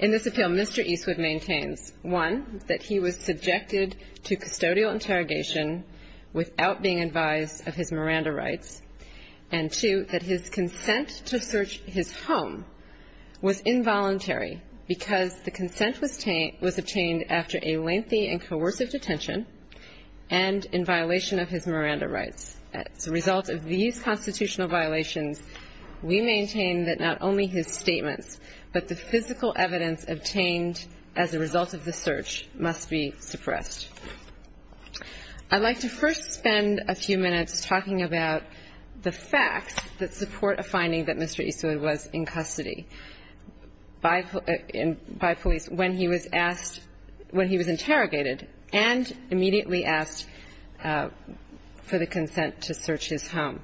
In this appeal, Mr. Eastwood maintains, one, that he was subjected to custodial interrogation without being advised of his Miranda rights, and two, that his consent to search his home was involuntary because the consent was obtained after a lengthy and coercive detention and in violation of his Miranda rights. As a result of these constitutional violations, we maintain that not only his statements, but the physical evidence obtained as a result of the search must be suppressed. I'd like to first spend a few minutes talking about the facts that support a finding that Mr. Eastwood was in custody by police when he was asked, when he was interrogated and immediately asked for the consent to search his home.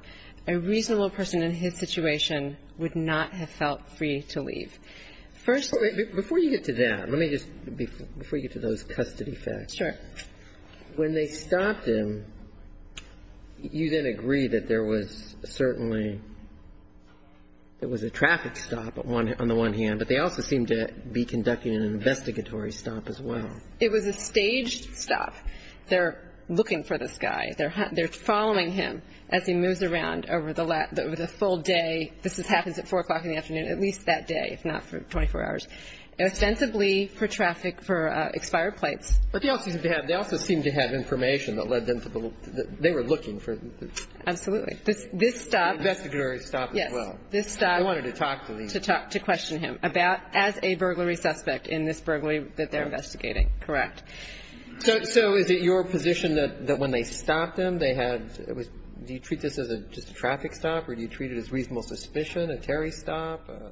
A reasonable person in his situation would not have felt free to leave. First of all – Before you get to that, let me just, before you get to those custody facts. Sure. When they stopped him, you then agree that there was certainly, there was a traffic stop on the one hand, but they also seemed to be conducting an investigatory stop as well. It was a staged stop. They're looking for this guy. They're following him as he moves around over the full day. This happens at 4 o'clock in the afternoon, at least that day, if not for 24 hours. Ostensibly for traffic, for expired plates. But they also seem to have, they also seem to have information that led them to the, they were looking for this. Absolutely. This stop – Investigatory stop as well. Yes. This stop – They wanted to talk to him. To question him about, as a burglary suspect in this burglary that they're investigating. Correct. So is it your position that when they stopped him, they had, do you treat this as just a traffic stop or do you treat it as reasonable suspicion, a Terry stop, a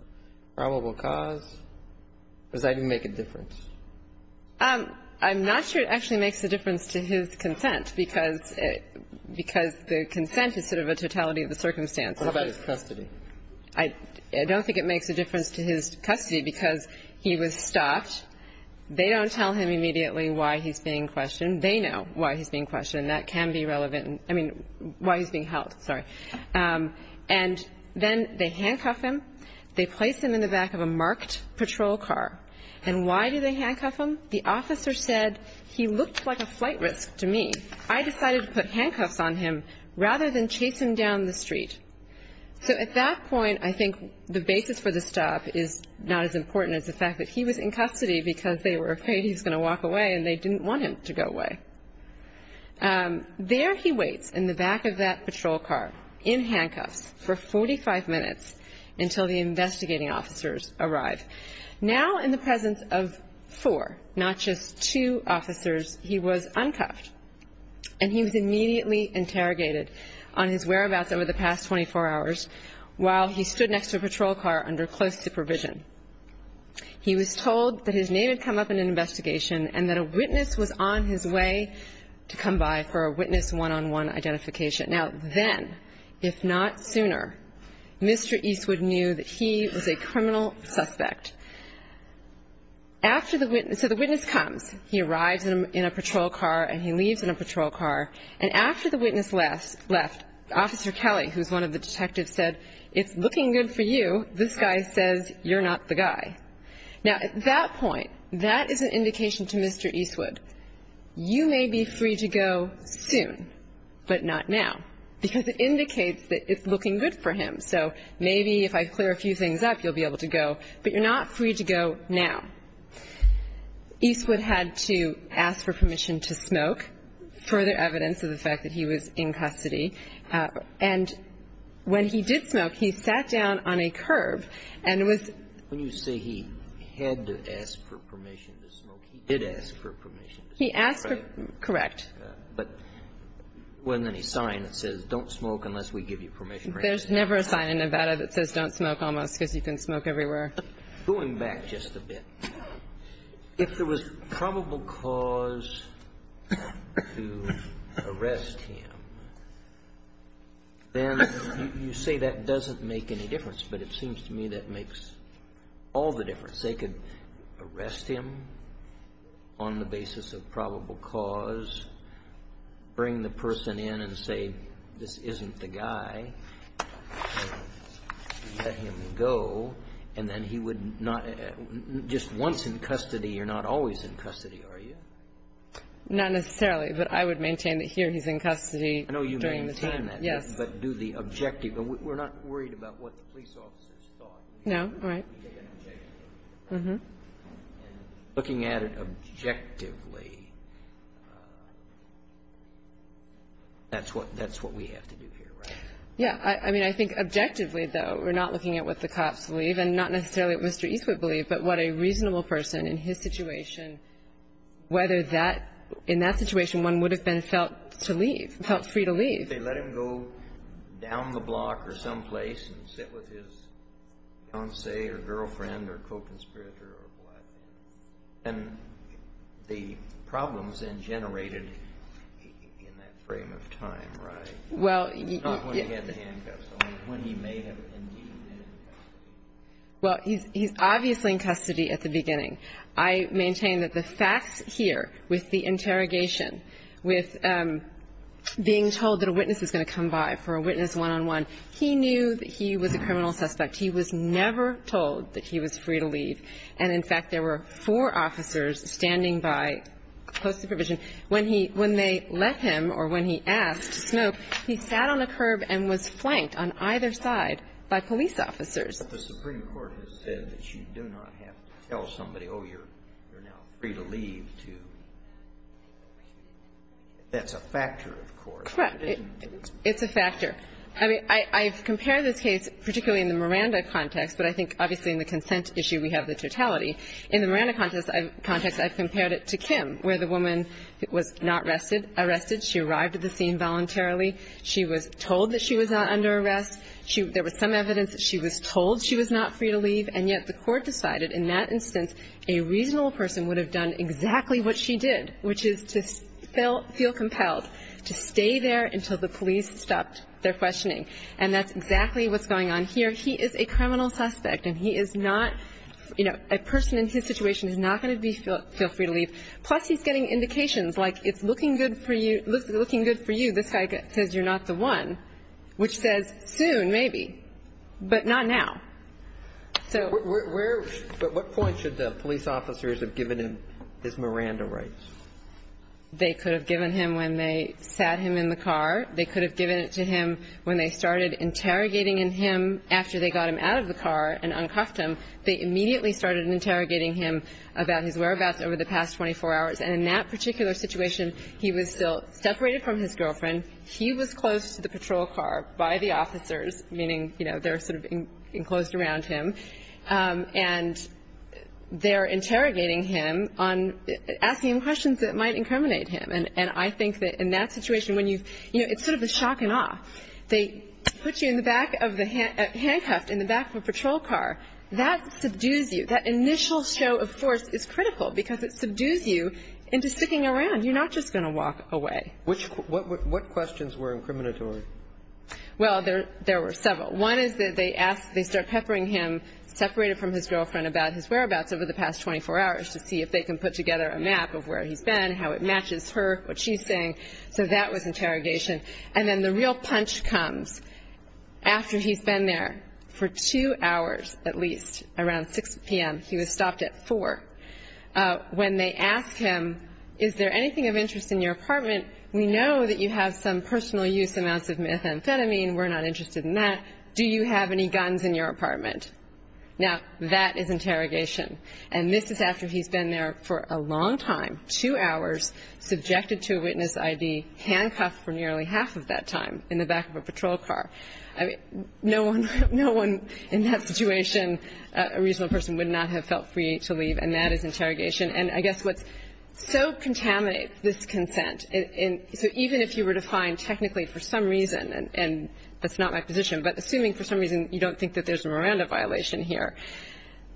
probable cause, or does that even make a difference? I'm not sure it actually makes a difference to his consent, because the consent is sort of a totality of the circumstances. What about his custody? I don't think it makes a difference to his custody, because he was stopped. They don't tell him immediately why he's being questioned. They know why he's being questioned. That can be relevant. I mean, why he's being held, sorry. And then they handcuff him. They place him in the back of a marked patrol car. And why do they handcuff him? The officer said, he looked like a flight risk to me. I decided to put handcuffs on him rather than chase him down the street. So at that point, I think the basis for the stop is not as important as the fact that he was in custody, because they were afraid he was going to walk away and they didn't want him to go away. There he waits in the back of that patrol car in handcuffs for 45 minutes until the investigating officers arrive. Now in the presence of four, not just two, officers, he was uncuffed, and he was immediately interrogated on his whereabouts over the past 24 hours while he stood next to a patrol car under close supervision. He was told that his name had come up in an investigation and that a witness was on his way to come by for a witness one-on-one identification. Now then, if not sooner, Mr. Eastwood knew that he was a criminal suspect. So the witness comes. He arrives in a patrol car, and he leaves in a patrol car. And after the witness left, Officer Kelly, who's one of the detectives, said, It's looking good for you. This guy says you're not the guy. Now at that point, that is an indication to Mr. Eastwood, you may be free to go soon, but not now, because it indicates that it's looking good for him. So maybe if I clear a few things up, you'll be able to go. But you're not free to go now. Eastwood had to ask for permission to smoke, further evidence of the fact that he was in custody. And when he did smoke, he sat down on a curb and was When you say he had to ask for permission to smoke, he did ask for permission to smoke, correct? Correct. But wasn't there any sign that says don't smoke unless we give you permission? There's never a sign in Nevada that says don't smoke, almost, because you can smoke everywhere. Going back just a bit, if there was probable cause to arrest him, then you say that doesn't make any difference, but it seems to me that makes all the difference. They could arrest him on the basis of probable cause, bring the person in and say, this isn't the guy, let him go, and then he would not Just once in custody, you're not always in custody, are you? Not necessarily. But I would maintain that here he's in custody during the time. I know you maintain that. Yes. But do the objective. We're not worried about what the police officers thought. No, right. And looking at it objectively, that's what we have to do here, right? Yeah. I mean, I think objectively, though, we're not looking at what the cops believe and not necessarily what Mr. Eastwood believed, but what a reasonable person in his situation, whether in that situation one would have been felt to leave, felt free to leave. I mean, if they let him go down the block or someplace and sit with his concierge or girlfriend or co-conspirator or what, then the problem is then generated in that frame of time, right? Well. Not when he had the handcuffs on, but when he may have indeed been in custody. Well, he's obviously in custody at the beginning. I maintain that the facts here with the interrogation, with being told that a witness is going to come by for a witness one-on-one, he knew that he was a criminal suspect. He was never told that he was free to leave. And, in fact, there were four officers standing by close supervision. When he – when they let him or when he asked to smoke, he sat on a curb and was flanked on either side by police officers. The Supreme Court has said that you do not have to tell somebody, oh, you're now free to leave to – that's a factor, of course. Correct. It's a factor. I mean, I've compared this case, particularly in the Miranda context, but I think obviously in the consent issue we have the totality. In the Miranda context, I've compared it to Kim, where the woman was not arrested. She arrived at the scene voluntarily. She was told that she was not under arrest. She – there was some evidence that she was told she was not free to leave. And yet the Court decided in that instance a reasonable person would have done exactly what she did, which is to feel compelled to stay there until the police stopped their questioning. And that's exactly what's going on here. He is a criminal suspect, and he is not – you know, a person in his situation is not going to be – feel free to leave. Plus, he's getting indications, like, it's looking good for you. It's looking good for you. This guy says you're not the one, which says soon, maybe, but not now. So we're – But what point should the police officers have given him his Miranda rights? They could have given him when they sat him in the car. They could have given it to him when they started interrogating him after they got him out of the car and uncuffed him. They immediately started interrogating him about his whereabouts over the past 24 hours. And in that particular situation, he was still separated from his girlfriend. He was close to the patrol car by the officers, meaning, you know, they're sort of enclosed around him. And they're interrogating him on – asking him questions that might incriminate him. And I think that in that situation, when you – you know, it's sort of a shock and awe. They put you in the back of the – handcuffed in the back of a patrol car. That subdues you. That initial show of force is critical, because it subdues you into sticking around. You're not just going to walk away. Which – what questions were incriminatory? Well, there were several. One is that they asked – they start peppering him, separated from his girlfriend, about his whereabouts over the past 24 hours to see if they can put together a map of where he's been, how it matches her, what she's saying. So that was interrogation. And then the real punch comes after he's been there for two hours at least, around 6 p.m. He was stopped at 4. When they ask him, is there anything of interest in your apartment, we know that you have some personal use amounts of methamphetamine. We're not interested in that. Do you have any guns in your apartment? Now, that is interrogation. And this is after he's been there for a long time, two hours, subjected to a witness ID, handcuffed for nearly half of that time in the back of a patrol car. No one in that situation, a reasonable person, would not have felt free to leave, and that is interrogation. And I guess what so contaminates this consent – so even if you were to find technically for some reason, and that's not my position, but assuming for some reason you don't think that there's a Miranda violation here,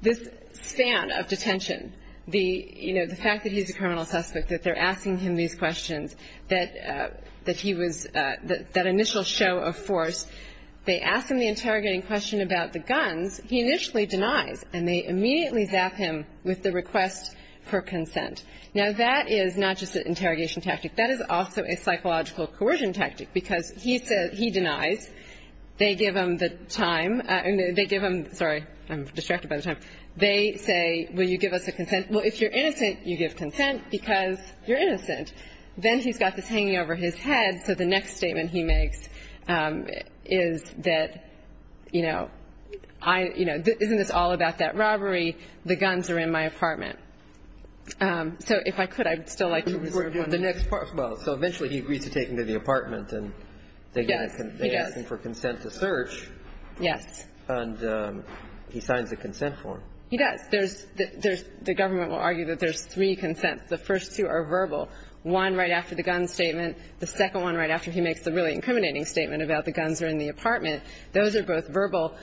this span of detention, the fact that he's a criminal suspect, that they're asking him these questions, that he was – that initial show of force. They ask him the interrogating question about the guns. He initially denies, and they immediately zap him with the request for consent. Now, that is not just an interrogation tactic. That is also a psychological coercion tactic, because he says – he denies. They give him the time. They give him – sorry, I'm distracted by the time. They say, will you give us a consent? Well, if you're innocent, you give consent, because you're innocent. Then he's got this hanging over his head, so the next statement he makes is that, you know, I – you know, isn't this all about that robbery? The guns are in my apartment. So if I could, I'd still like to reserve one minute. Well, so eventually he agrees to take him to the apartment, and they ask him for consent to search. Yes. And he signs the consent form. He does. There's – the government will argue that there's three consents. The first two are verbal. One right after the gun statement. The second one right after he makes the really incriminating statement about the guns are in the apartment. Those are both verbal.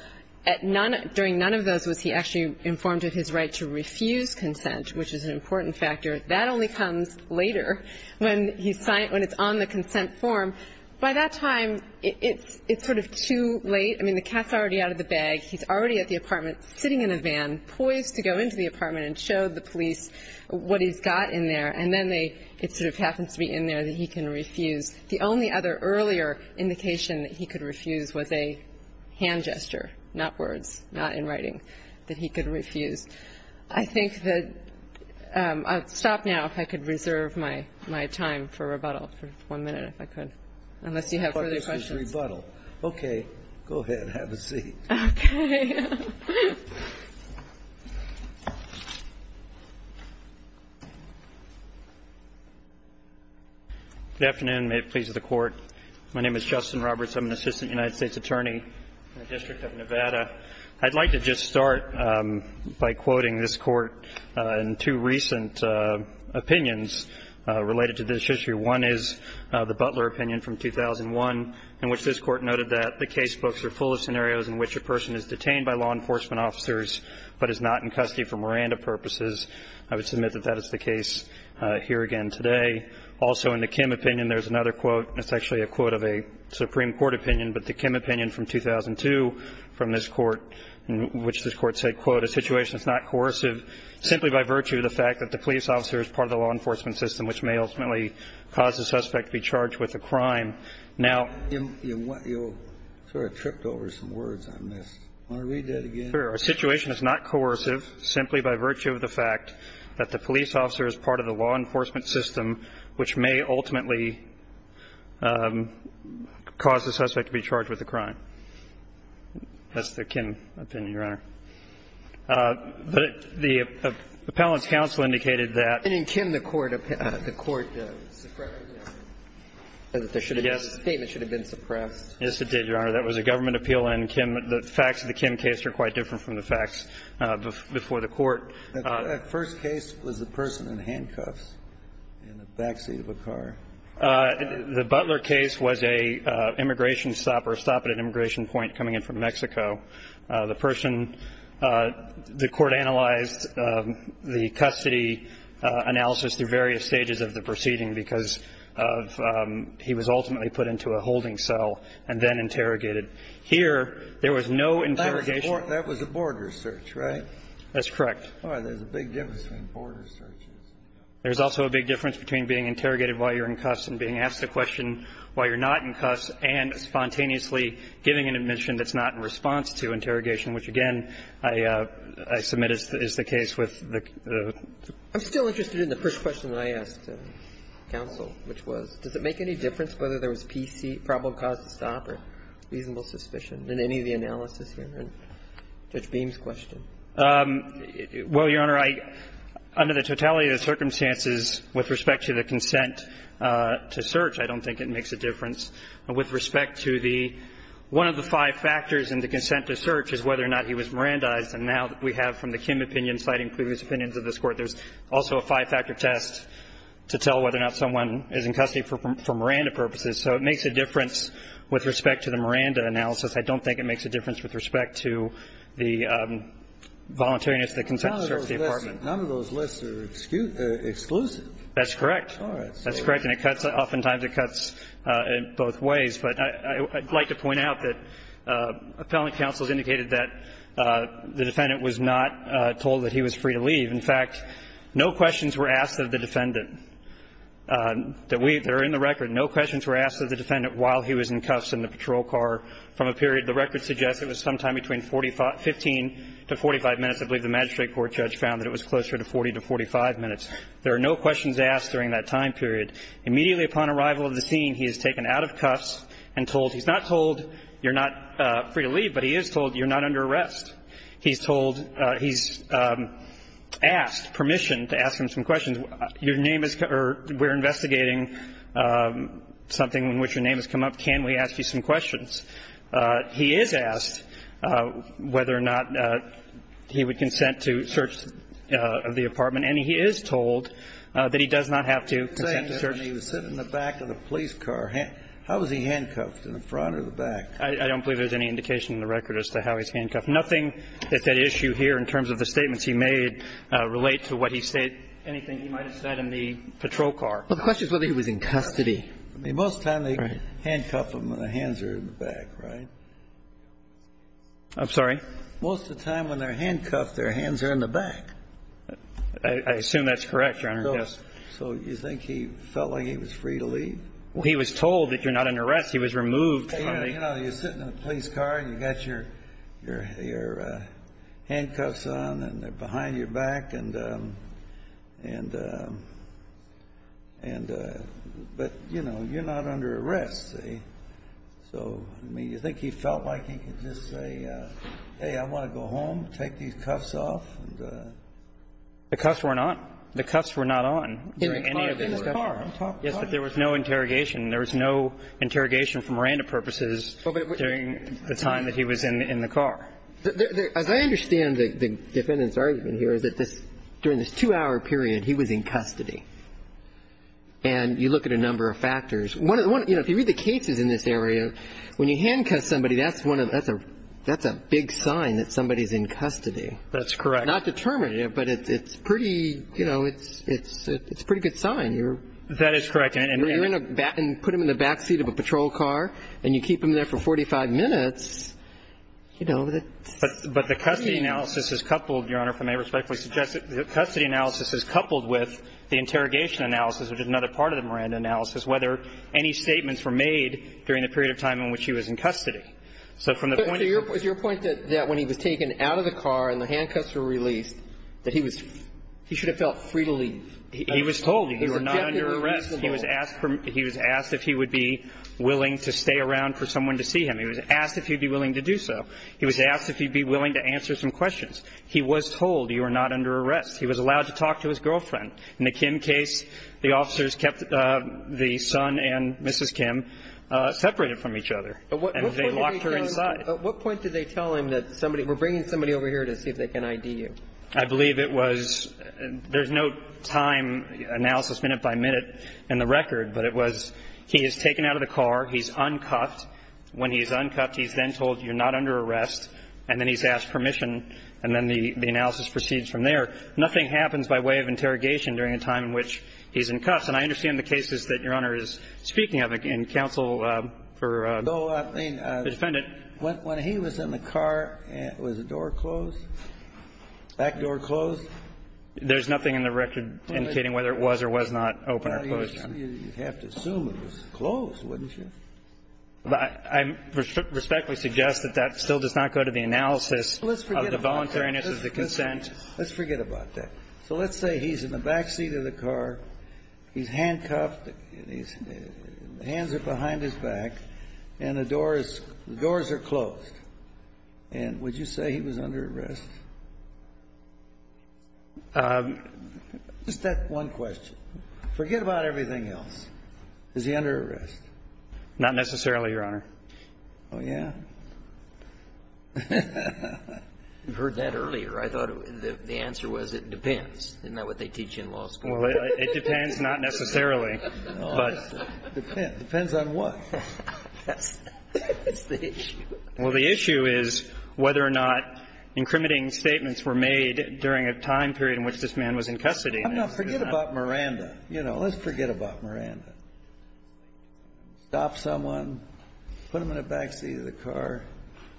At none – during none of those was he actually informed of his right to refuse consent, which is an important factor. That only comes later when he's – when it's on the consent form. By that time, it's sort of too late. I mean, the cat's already out of the bag. He's already at the apartment sitting in a van, poised to go into the apartment and show the police what he's got in there. And then they – it sort of happens to be in there that he can refuse. The only other earlier indication that he could refuse was a hand gesture, not words, not in writing, that he could refuse. I think that – I'll stop now if I could reserve my time for rebuttal for one minute, if I could, unless you have further questions. I thought this was rebuttal. Okay. Go ahead. Have a seat. Okay. Good afternoon. May it please the Court. My name is Justin Roberts. I'm an assistant United States attorney in the District of Nevada. I'd like to just start by quoting this Court in two recent opinions related to this issue. One is the Butler opinion from 2001, in which this Court noted that the casebooks are full of scenarios in which a person is detained by law enforcement officers but is not in custody for Miranda purposes. I would submit that that is the case here again today. Also in the Kim opinion, there's another quote. It's actually a quote of a Supreme Court opinion, but the Kim opinion from 2002 from this Court, in which this Court said, quote, a situation is not coercive simply by virtue of the fact that the police officer is part of the law enforcement system, which may ultimately cause the suspect to be charged with a crime. Now ---- You sort of tripped over some words I missed. Want to read that again? Sure. A situation is not coercive simply by virtue of the fact that the police officer is part of the law enforcement system, which may ultimately cause the suspect to be charged with a crime. That's the Kim opinion, Your Honor. But the appellant's counsel indicated that ---- And in Kim, the Court suppressed it. Yes. The statement should have been suppressed. Yes, it did, Your Honor. That was a government appeal in Kim. The facts of the Kim case are quite different from the facts before the Court. The first case was the person in handcuffs in the backseat of a car. The Butler case was an immigration stop or a stop at an immigration point coming in from Mexico. The person ---- the Court analyzed the custody analysis through various stages of the proceeding because of he was ultimately put into a holding cell and then interrogated. Here, there was no interrogation. That was a border search, right? That's correct. Boy, there's a big difference between border searches. There's also a big difference between being interrogated while you're in cuffs and being asked a question while you're not in cuffs and spontaneously giving an admission that's not in response to interrogation, which, again, I submit is the case with the ---- I'm still interested in the first question I asked counsel, which was, does it make any difference whether there was PC, probable cause to stop, or reasonable suspicion in any of the analysis here in Judge Beam's question? Well, Your Honor, I ---- under the totality of the circumstances with respect to the consent to search, I don't think it makes a difference. With respect to the ---- one of the five factors in the consent to search is whether or not he was Mirandized, and now we have from the Kim opinion citing previous opinions of this Court, there's also a five-factor test to tell whether or not someone is in custody for Miranda purposes. So it makes a difference with respect to the Miranda analysis. I don't think it makes a difference with respect to the voluntariness of the consent to search department. None of those lists are exclusive. That's correct. All right. That's correct. And it cuts ---- oftentimes it cuts in both ways. But I'd like to point out that appellant counsel has indicated that the defendant was not told that he was free to leave. In fact, no questions were asked of the defendant that we ---- that are in the record. No questions were asked of the defendant while he was in cuffs in the patrol car from a period. The record suggests it was sometime between 45 ---- 15 to 45 minutes. I believe the magistrate court judge found that it was closer to 40 to 45 minutes. There are no questions asked during that time period. Immediately upon arrival of the scene, he is taken out of cuffs and told he's not told you're not free to leave, but he is told you're not under arrest. He's told he's asked permission to ask him some questions. Your name is ---- or we're investigating something in which your name has come up. Can we ask you some questions? He is asked whether or not he would consent to search of the apartment, and he is told that he does not have to consent to search. He was sitting in the back of the police car. How was he handcuffed, in the front or the back? I don't believe there's any indication in the record as to how he's handcuffed. Nothing at that issue here in terms of the statements he made relate to what he said anything he might have said in the patrol car. Well, the question is whether he was in custody. Most times they handcuff them when their hands are in the back, right? I'm sorry? Most of the time when they're handcuffed, their hands are in the back. I assume that's correct. Your Honor, yes. So you think he felt like he was free to leave? He was told that you're not under arrest. He was removed from the ---- You know, you're sitting in a police car, and you've got your handcuffs on, and they're behind your back, and the ---- but, you know, you're not under arrest, see? So, I mean, you think he felt like he could just say, hey, I want to go home, take these cuffs off? The cuffs were not. The cuffs were not on during any of the discussion. Yes, but there was no interrogation. There was no interrogation for Miranda purposes during the time that he was in the car. As I understand the defendant's argument here is that this ---- during this two-hour period, he was in custody. And you look at a number of factors. One of the ones ---- you know, if you read the cases in this area, when you handcuff somebody, that's one of the ---- that's a big sign that somebody's in custody. That's correct. Not determined, but it's pretty, you know, it's a pretty good sign. That is correct. And you're in a back ---- and put them in the back seat of a patrol car, and you keep them there for 45 minutes, you know, that's ---- But the custody analysis is coupled, Your Honor, if I may respectfully suggest, the custody analysis is coupled with the interrogation analysis, which is another part of the Miranda analysis, whether any statements were made during the period of time in which he was in custody. So from the point of view ---- The point of view of the judge is that he was told that he was released, that he was ---- he should have felt free to leave. He was told he was not under arrest. He was asked if he would be willing to stay around for someone to see him. He was asked if he would be willing to do so. He was asked if he would be willing to answer some questions. He was told he was not under arrest. He was allowed to talk to his girlfriend. In the Kim case, the officers kept the son and Mrs. Kim separated from each other. At what point did they tell him? That somebody ---- we're bringing somebody over here to see if they can ID you. I believe it was ---- there's no time analysis, minute by minute, in the record. But it was he is taken out of the car, he's uncuffed. When he's uncuffed, he's then told you're not under arrest, and then he's asked permission, and then the analysis proceeds from there. Nothing happens by way of interrogation during a time in which he's in cuffs. And I understand the cases that Your Honor is speaking of in counsel for the defendant. No, I mean, when he was in the car, was the door closed? Back door closed? There's nothing in the record indicating whether it was or was not open or closed. You'd have to assume it was closed, wouldn't you? I respectfully suggest that that still does not go to the analysis of the voluntariness of the consent. Let's forget about that. So let's say he's in the back seat of the car. He's handcuffed. The hands are behind his back, and the doors are closed. And would you say he was under arrest? Just that one question. Forget about everything else. Is he under arrest? Not necessarily, Your Honor. Oh, yeah? You heard that earlier. I thought the answer was it depends. Isn't that what they teach in law school? Well, it depends not necessarily. It depends on what? That's the issue. Well, the issue is whether or not incriminating statements were made during a time period in which this man was in custody. Forget about Miranda. You know, let's forget about Miranda. Stop someone, put them in the back seat of the car,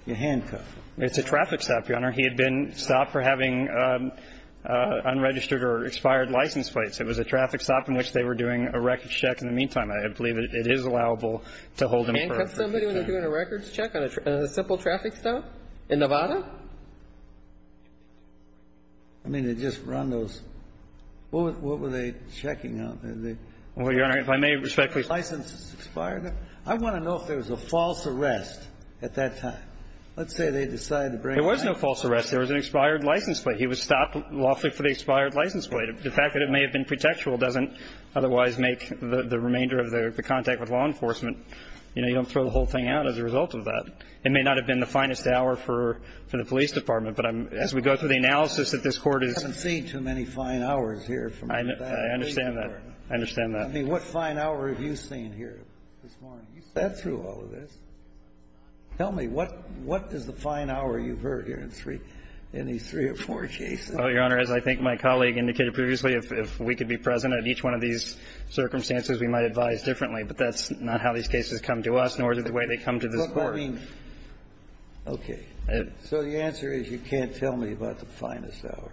you handcuff them. It's a traffic stop, Your Honor. He had been stopped for having unregistered or expired license plates. It was a traffic stop in which they were doing a records check. In the meantime, I believe it is allowable to hold him for a traffic stop. Handcuff somebody when they're doing a records check on a simple traffic stop in Nevada? I mean, they just run those. What were they checking out? Well, Your Honor, if I may respectfully ask. License expired. I want to know if there was a false arrest at that time. Let's say they decided to bring a license plate. There was no false arrest. There was an expired license plate. He was stopped lawfully for the expired license plate. The fact that it may have been pretextual doesn't otherwise make the remainder of the contact with law enforcement. You know, you don't throw the whole thing out as a result of that. It may not have been the finest hour for the police department, but I'm as we go through the analysis that this Court is. I haven't seen too many fine hours here. I understand that. I understand that. I mean, what fine hour have you seen here this morning? You sat through all of this. Tell me, what is the fine hour you've heard here in these three or four cases? Well, Your Honor, as I think my colleague indicated previously, if we could be present at each one of these circumstances, we might advise differently. But that's not how these cases come to us, nor is it the way they come to this Court. But, I mean, okay. So the answer is you can't tell me about the finest hour.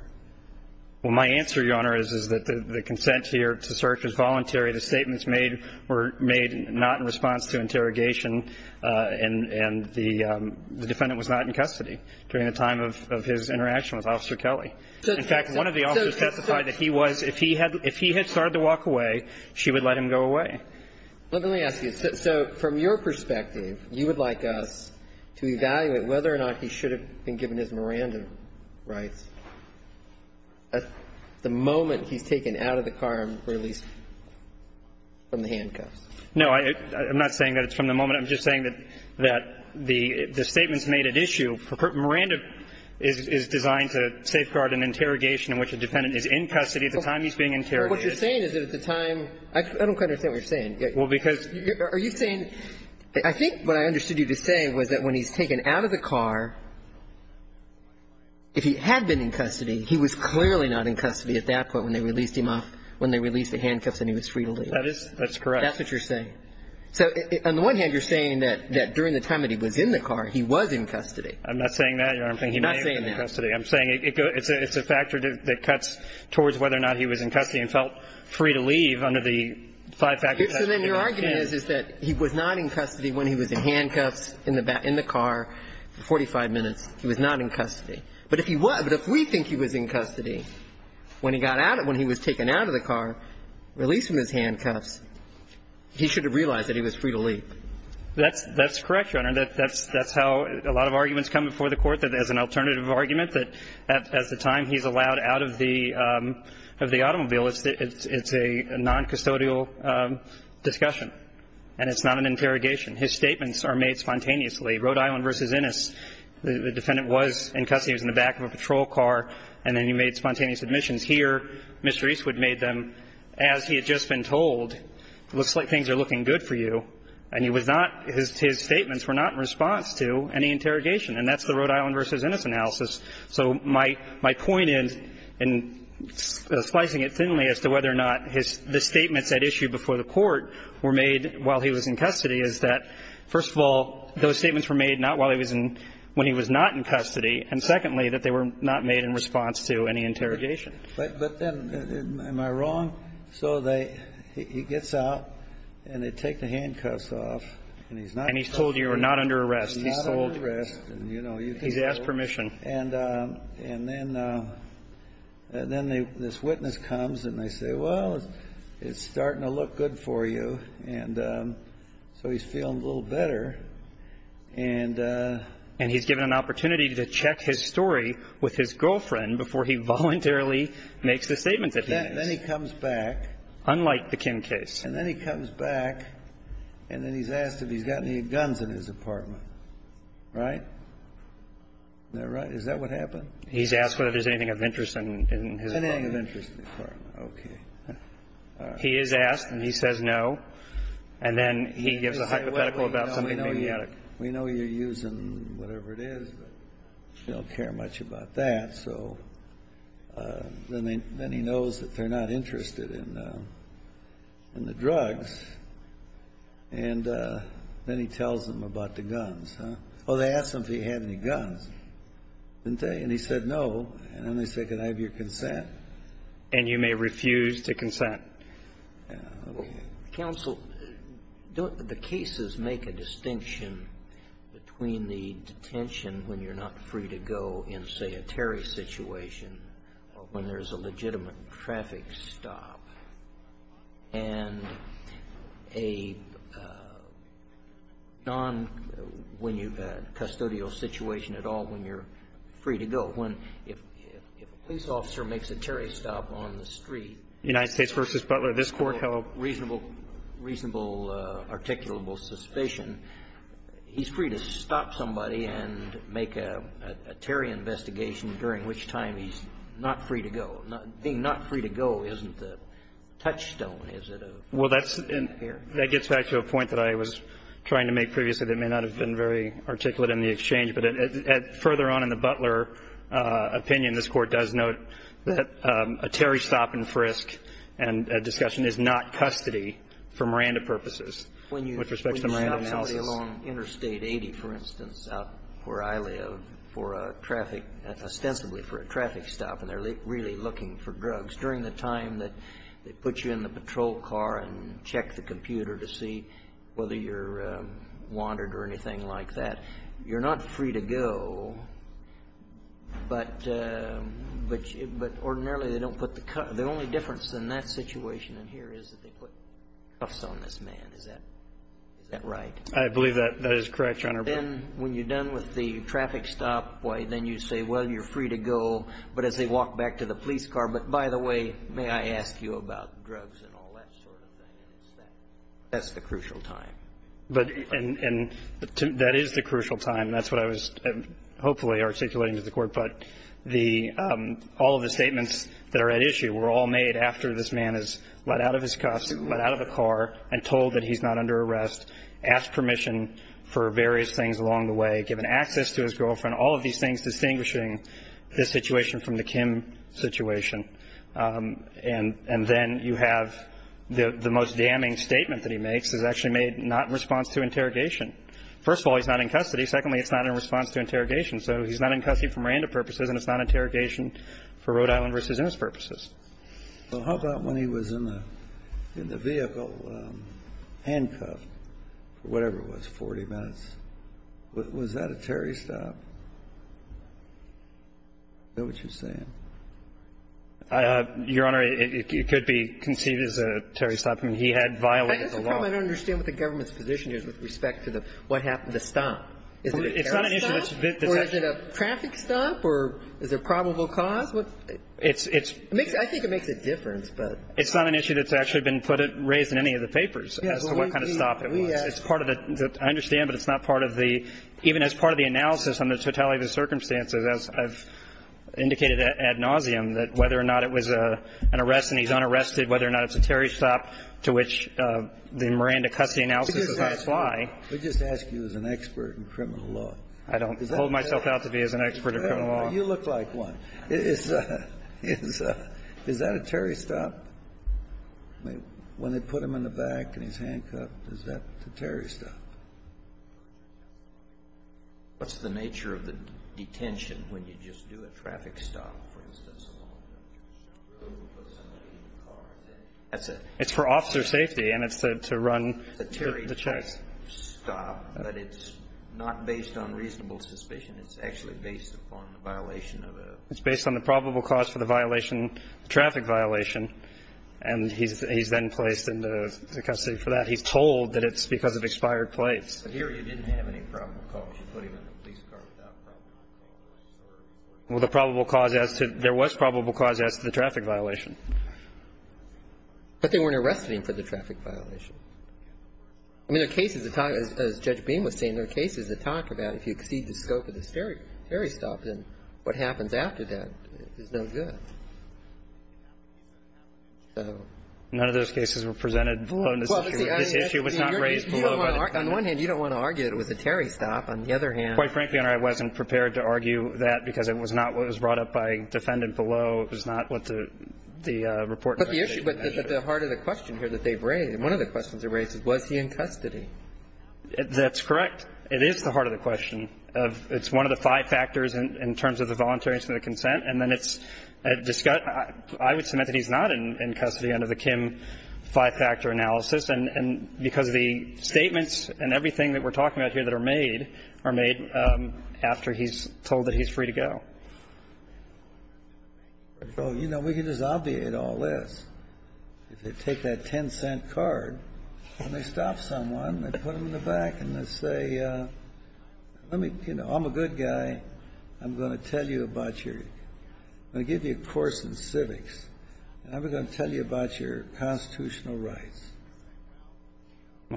Well, my answer, Your Honor, is that the consent here to search was voluntary. The statements made were made not in response to interrogation, and the defendant was not in custody during the time of his interaction with Officer Kelly. In fact, one of the officers testified that he was, if he had started to walk away, she would let him go away. Let me ask you. So from your perspective, you would like us to evaluate whether or not he should have been given his Miranda rights at the moment he's taken out of the car and released from the handcuffs? No. I'm not saying that it's from the moment. I'm just saying that the statements made at issue, Miranda is designed to safeguard an interrogation in which a defendant is in custody at the time he's being interrogated. What you're saying is that at the time – I don't quite understand what you're saying. Well, because – Are you saying – I think what I understood you to say was that when he's taken out of the car, if he had been in custody, he was clearly not in custody at that point when they released him off – when they released the handcuffs and he was free to leave. That is – that's correct. That's what you're saying. So on the one hand, you're saying that during the time that he was in the car, he was in custody. I'm not saying that, Your Honor. I'm saying he may have been in custody. It's a factor that cuts towards whether or not he was in custody and felt free to leave under the five factors that I've given you. So then your argument is, is that he was not in custody when he was in handcuffs in the back – in the car for 45 minutes. He was not in custody. But if he was – but if we think he was in custody when he got out – when he was taken out of the car, released from his handcuffs, he should have realized that he was free to leave. That's – that's correct, Your Honor. That's how a lot of arguments come before the Court, that as an alternative argument, that at the time he's allowed out of the – of the automobile, it's a noncustodial discussion, and it's not an interrogation. His statements are made spontaneously. Rhode Island v. Innis, the defendant was in custody. He was in the back of a patrol car, and then he made spontaneous admissions. Here, Mr. Eastwood made them as he had just been told. It looks like things are looking good for you. And he was not – his statements were not in response to any interrogation. And that's the Rhode Island v. Innis analysis. So my – my point in – in slicing it thinly as to whether or not his – the statements at issue before the Court were made while he was in custody is that, first of all, those statements were made not while he was in – when he was not in custody, and secondly, that they were not made in response to any interrogation. But then, am I wrong? So they – he gets out, and they take the handcuffs off, and he's not in custody. And he's told you you're not under arrest. He's not under arrest. And, you know, you can go. He's asked permission. And – and then – and then they – this witness comes, and they say, well, it's starting to look good for you. And so he's feeling a little better. And – And he's given an opportunity to check his story with his girlfriend before he voluntarily makes the statement that he needs. Then he comes back. Unlike the Kim case. And then he comes back, and then he's asked if he's got any guns in his apartment. Right? Is that right? Is that what happened? He's asked whether there's anything of interest in his apartment. Anything of interest in the apartment. Okay. He is asked, and he says no. And then he gives a hypothetical about something maniac. We know you're using whatever it is, but we don't care much about that. So then they – then he knows that they're not interested in – in the drugs. And then he tells them about the guns, huh? Well, they asked him if he had any guns. Didn't they? And he said no. And then they said, can I have your consent? And you may refuse to consent. Counsel, don't the cases make a distinction between the detention when you're not free to go in, say, a Terry situation, when there's a legitimate traffic stop, and a non-custodial situation at all when you're free to go? When if a police officer makes a Terry stop on the street. United States v. Butler. This Court held reasonable, articulable suspicion. He's free to stop somebody and make a Terry investigation, during which time he's not free to go. Being not free to go isn't a touchstone, is it? Well, that's – that gets back to a point that I was trying to make previously that may not have been very articulate in the exchange. But further on in the Butler opinion, this Court does note that a Terry stop and frisk and a discussion is not custody for Miranda purposes. When you stop somebody along Interstate 80, for instance, out where I live, for a traffic – ostensibly for a traffic stop, and they're really looking for drugs. During the time that they put you in the patrol car and check the computer to see whether you're wanted or anything like that, you're not free to go, but ordinarily they don't put the – the only difference in that situation in here is that they put Is that right? I believe that that is correct, Your Honor. Then when you're done with the traffic stop, then you say, well, you're free to go. But as they walk back to the police car, but by the way, may I ask you about drugs and all that sort of thing? That's the crucial time. But – and that is the crucial time. That's what I was hopefully articulating to the Court. But the – all of the statements that are at issue were all made after this man is let out of his costume, let out of the car, and told that he's not under arrest, asked permission for various things along the way, given access to his girlfriend, all of these things distinguishing this situation from the Kim situation. And then you have the most damning statement that he makes is actually made not in response to interrogation. First of all, he's not in custody. Secondly, it's not in response to interrogation. So he's not in custody for Miranda purposes, and it's not interrogation for Rhode Island v. Innis purposes. So how about when he was in the vehicle, handcuffed, for whatever it was, 40 minutes? Was that a Terry stop? Is that what you're saying? Your Honor, it could be conceived as a Terry stop. I mean, he had violated the law. I guess the problem, I don't understand what the government's position is with respect to the – what happened to the stop. Is it a Terry stop or is it a traffic stop or is it a probable cause? I think it makes a difference, but – It's not an issue that's actually been raised in any of the papers as to what kind of stop it was. It's part of the – I understand, but it's not part of the – even as part of the analysis on the totality of the circumstances, as I've indicated ad nauseum, that whether or not it was an arrest and he's unarrested, whether or not it's a Terry stop to which the Miranda custody analysis does not apply. We just ask you as an expert in criminal law. I don't hold myself out to be as an expert in criminal law. You look like one. Is that a Terry stop? I mean, when they put him in the back and he's handcuffed, is that a Terry stop? What's the nature of the detention when you just do a traffic stop, for instance, along the road and put somebody in the car? It's for officer safety and it's to run the checks. It's a Terry stop, but it's not based on reasonable suspicion. It's actually based upon the violation of a – It's based on the probable cause for the violation, the traffic violation, and he's then placed into custody for that. He's told that it's because of expired plates. But here you didn't have any probable cause. You put him in a police car without probable cause. Well, the probable cause as to – there was probable cause as to the traffic violation. But they weren't arresting him for the traffic violation. I mean, there are cases that talk – as Judge Beam was saying, there are cases that talk about if you exceed the scope of the Terry stop, then what happens after that is no good. So – None of those cases were presented below this issue. This issue was not raised below – On one hand, you don't want to argue that it was a Terry stop. On the other hand – Quite frankly, Your Honor, I wasn't prepared to argue that because it was not – it was brought up by defendant below. It was not what the report – But the issue – but the heart of the question here that they've raised, and one of the questions they've raised is, was he in custody? That's correct. It is the heart of the question. It's one of the five factors in terms of the voluntariness and the consent, and then it's – I would submit that he's not in custody under the Kim five-factor analysis. And because of the statements and everything that we're talking about here that are made, are made after he's told that he's free to go. Well, you know, we can just obviate all this. If they take that 10-cent card and they stop someone and they put them in the back and they say, let me – you know, I'm a good guy. I'm going to tell you about your – I'm going to give you a course in civics, and I'm going to tell you about your constitutional rights.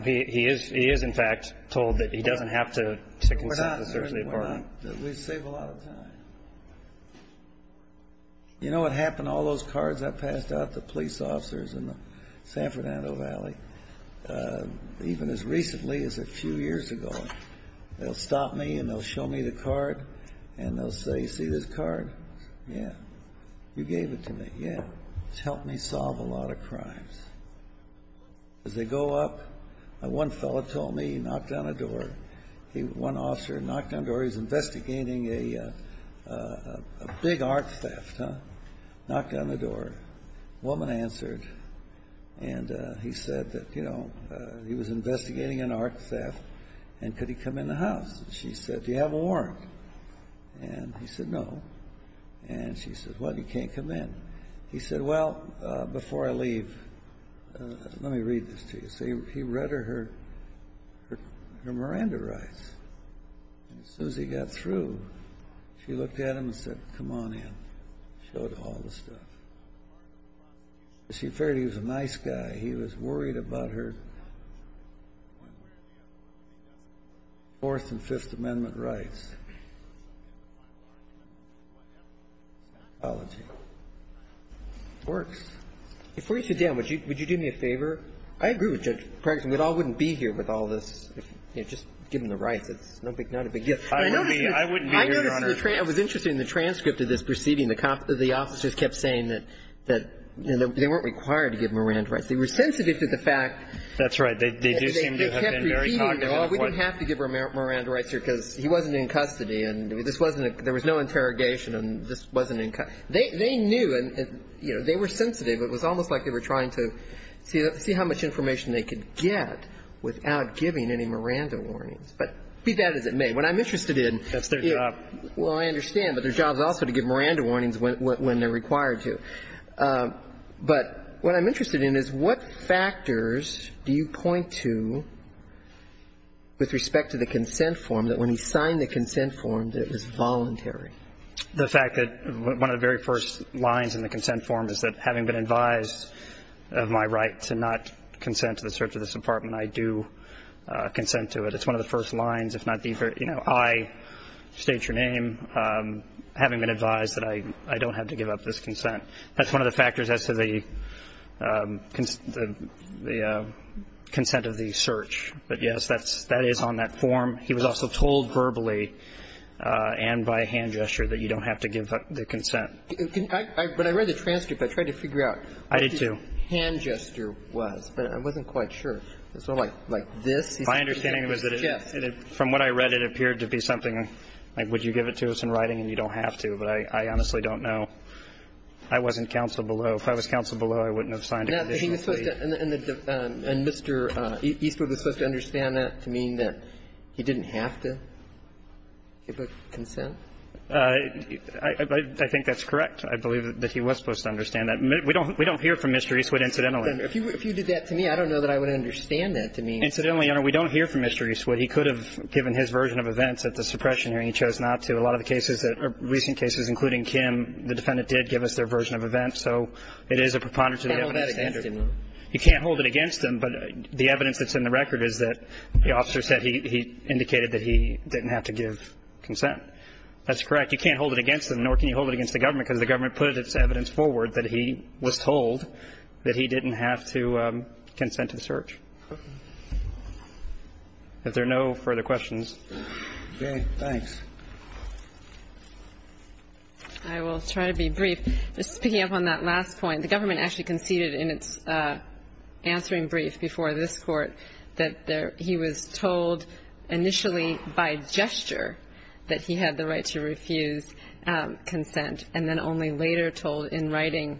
He is – he is, in fact, told that he doesn't have to consent to certainty of pardon. We save a lot of time. You know what happened? All those cards I passed out to police officers in the San Fernando Valley, even as recently as a few years ago, they'll stop me and they'll show me the card and they'll say, see this card? Yeah. You gave it to me. It's helped me solve a lot of crimes. As they go up, one fellow told me he knocked on a door. One officer knocked on the door. He was investigating a big art theft. Knocked on the door. Woman answered, and he said that, you know, he was investigating an art theft, and could he come in the house. She said, do you have a warrant? And he said, no. And she said, well, he can't come in. He said, well, before I leave, let me read this to you. He read her Miranda rights. And as soon as he got through, she looked at him and said, come on in. Showed all the stuff. She figured he was a nice guy. He was worried about her Fourth and Fifth Amendment rights. Before you sit down, would you do me a favor? I agree with Judge Pregston. We all wouldn't be here with all this, you know, just giving the rights. It's not a big deal. I wouldn't be here, Your Honor. I noticed in the transcript of this proceeding, the officers kept saying that they weren't required to give Miranda rights. They were sensitive to the fact that they kept repeating, oh, we didn't have to give Miranda rights here because he wasn't in custody. And this wasn't a – there was no interrogation. And this wasn't in – they knew and, you know, they were sensitive. It was almost like they were trying to see how much information they could get without giving any Miranda warnings. But be that as it may, what I'm interested in – That's their job. Well, I understand. But their job is also to give Miranda warnings when they're required to. But what I'm interested in is what factors do you point to with respect to the consent form that when he signed the consent form that it was voluntary? The fact that one of the very first lines in the consent form is that having been advised of my right to not consent to the search of this apartment, I do consent to it. It's one of the first lines, if not the very – you know, I, state your name, having been advised that I don't have to give up this consent. That's one of the factors as to the consent of the search. But, yes, that is on that form. He was also told verbally and by hand gesture that you don't have to give the consent. But I read the transcript. I tried to figure out what the hand gesture was, but I wasn't quite sure. It's sort of like this. My understanding was that from what I read, it appeared to be something like would you give it to us in writing and you don't have to. But I honestly don't know. I wasn't counsel below. If I was counsel below, I wouldn't have signed it. And Mr. Eastwood was supposed to understand that to mean that he didn't have to give a consent? I think that's correct. I believe that he was supposed to understand that. We don't hear from Mr. Eastwood incidentally. If you did that to me, I don't know that I would understand that to mean. Incidentally, Your Honor, we don't hear from Mr. Eastwood. He could have given his version of events at the suppression hearing. He chose not to. A lot of the cases that are recent cases, including Kim, the defendant did give us their version of events. So it is a preponderance of the evidence standard. You can't hold that against him, though. You can't hold it against him. But the evidence that's in the record is that the officer said he indicated that he didn't have to give consent. That's correct. You can't hold it against him, nor can you hold it against the government, because the government put its evidence forward that he was told that he didn't have to consent to the search. If there are no further questions. Okay. Thanks. I will try to be brief. Just picking up on that last point, the government actually conceded in its answering brief before this Court that he was told initially by gesture that he had the right to refuse consent, and then only later told in writing,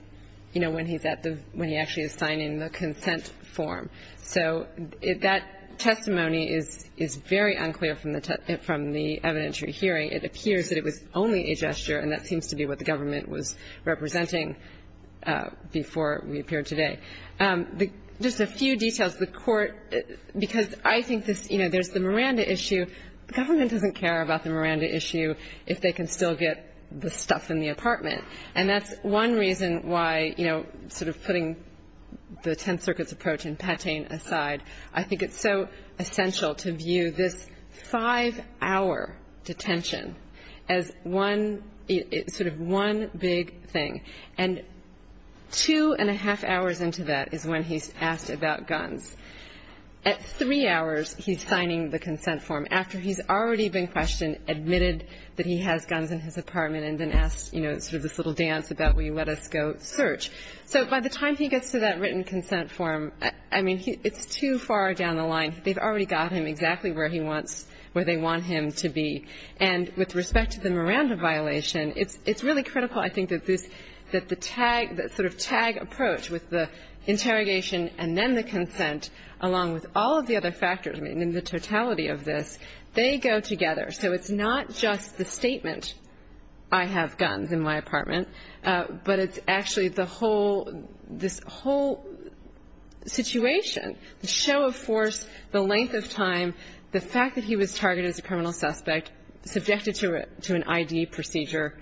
you know, when he's at the when he actually is signing the consent form. So that testimony is very unclear from the evidentiary hearing. It appears that it was only a gesture, and that seems to be what the government was representing before we appeared today. Just a few details. The Court, because I think this, you know, there's the Miranda issue. The government doesn't care about the Miranda issue if they can still get the stuff in the apartment. And that's one reason why, you know, sort of putting the Tenth Circuit's approach and Patain aside, I think it's so essential to view this five-hour detention as one, sort of one big thing. And two and a half hours into that is when he's asked about guns. At three hours, he's signing the consent form. After he's already been questioned, admitted that he has guns in his apartment and then asked, you know, sort of this little dance about will you let us go search. So by the time he gets to that written consent form, I mean, it's too far down the line. They've already got him exactly where he wants, where they want him to be. And with respect to the Miranda violation, it's really critical, I think, that this that the tag, that sort of tag approach with the interrogation and then the consent along with all of the other factors, I mean, in the totality of this, they go together. So it's not just the statement, I have guns in my apartment, but it's actually the whole, this whole situation, the show of force, the length of time, the fact that he was targeted as a criminal suspect, subjected to an I.D. procedure.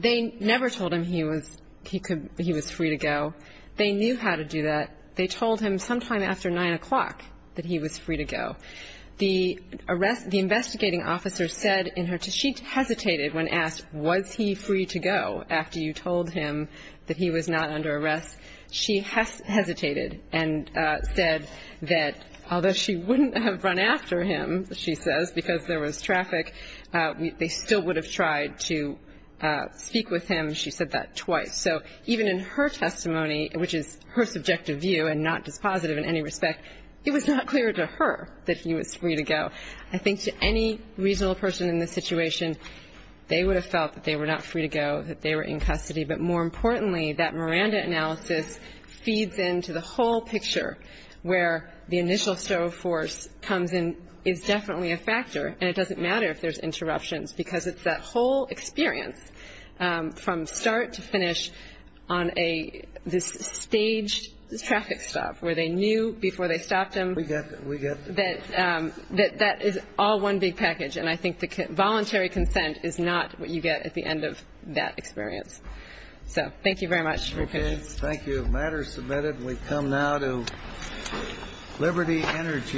They never told him he was free to go. They knew how to do that. They told him sometime after 9 o'clock that he was free to go. The arrest, the investigating officer said in her, she hesitated when asked was he free to go after you told him that he was not under arrest. She hesitated and said that although she wouldn't have run after him, she says, because there was traffic, they still would have tried to speak with him. She said that twice. So even in her testimony, which is her subjective view and not dispositive in any respect, it was not clear to her that he was free to go. I think to any reasonable person in this situation, they would have felt that they were not free to go, that they were in custody, but more importantly, that Miranda analysis feeds into the whole picture where the initial show of force comes in is definitely a factor, and it doesn't matter if there's interruptions, because it's that whole experience from start to finish on a, this staged traffic stop where they knew before they stopped him that that is all one big package, and I think the voluntary consent is not what you get at the end of that experience. So thank you very much for your patience. Thank you. The matter is submitted, and we come now to Liberty Energy.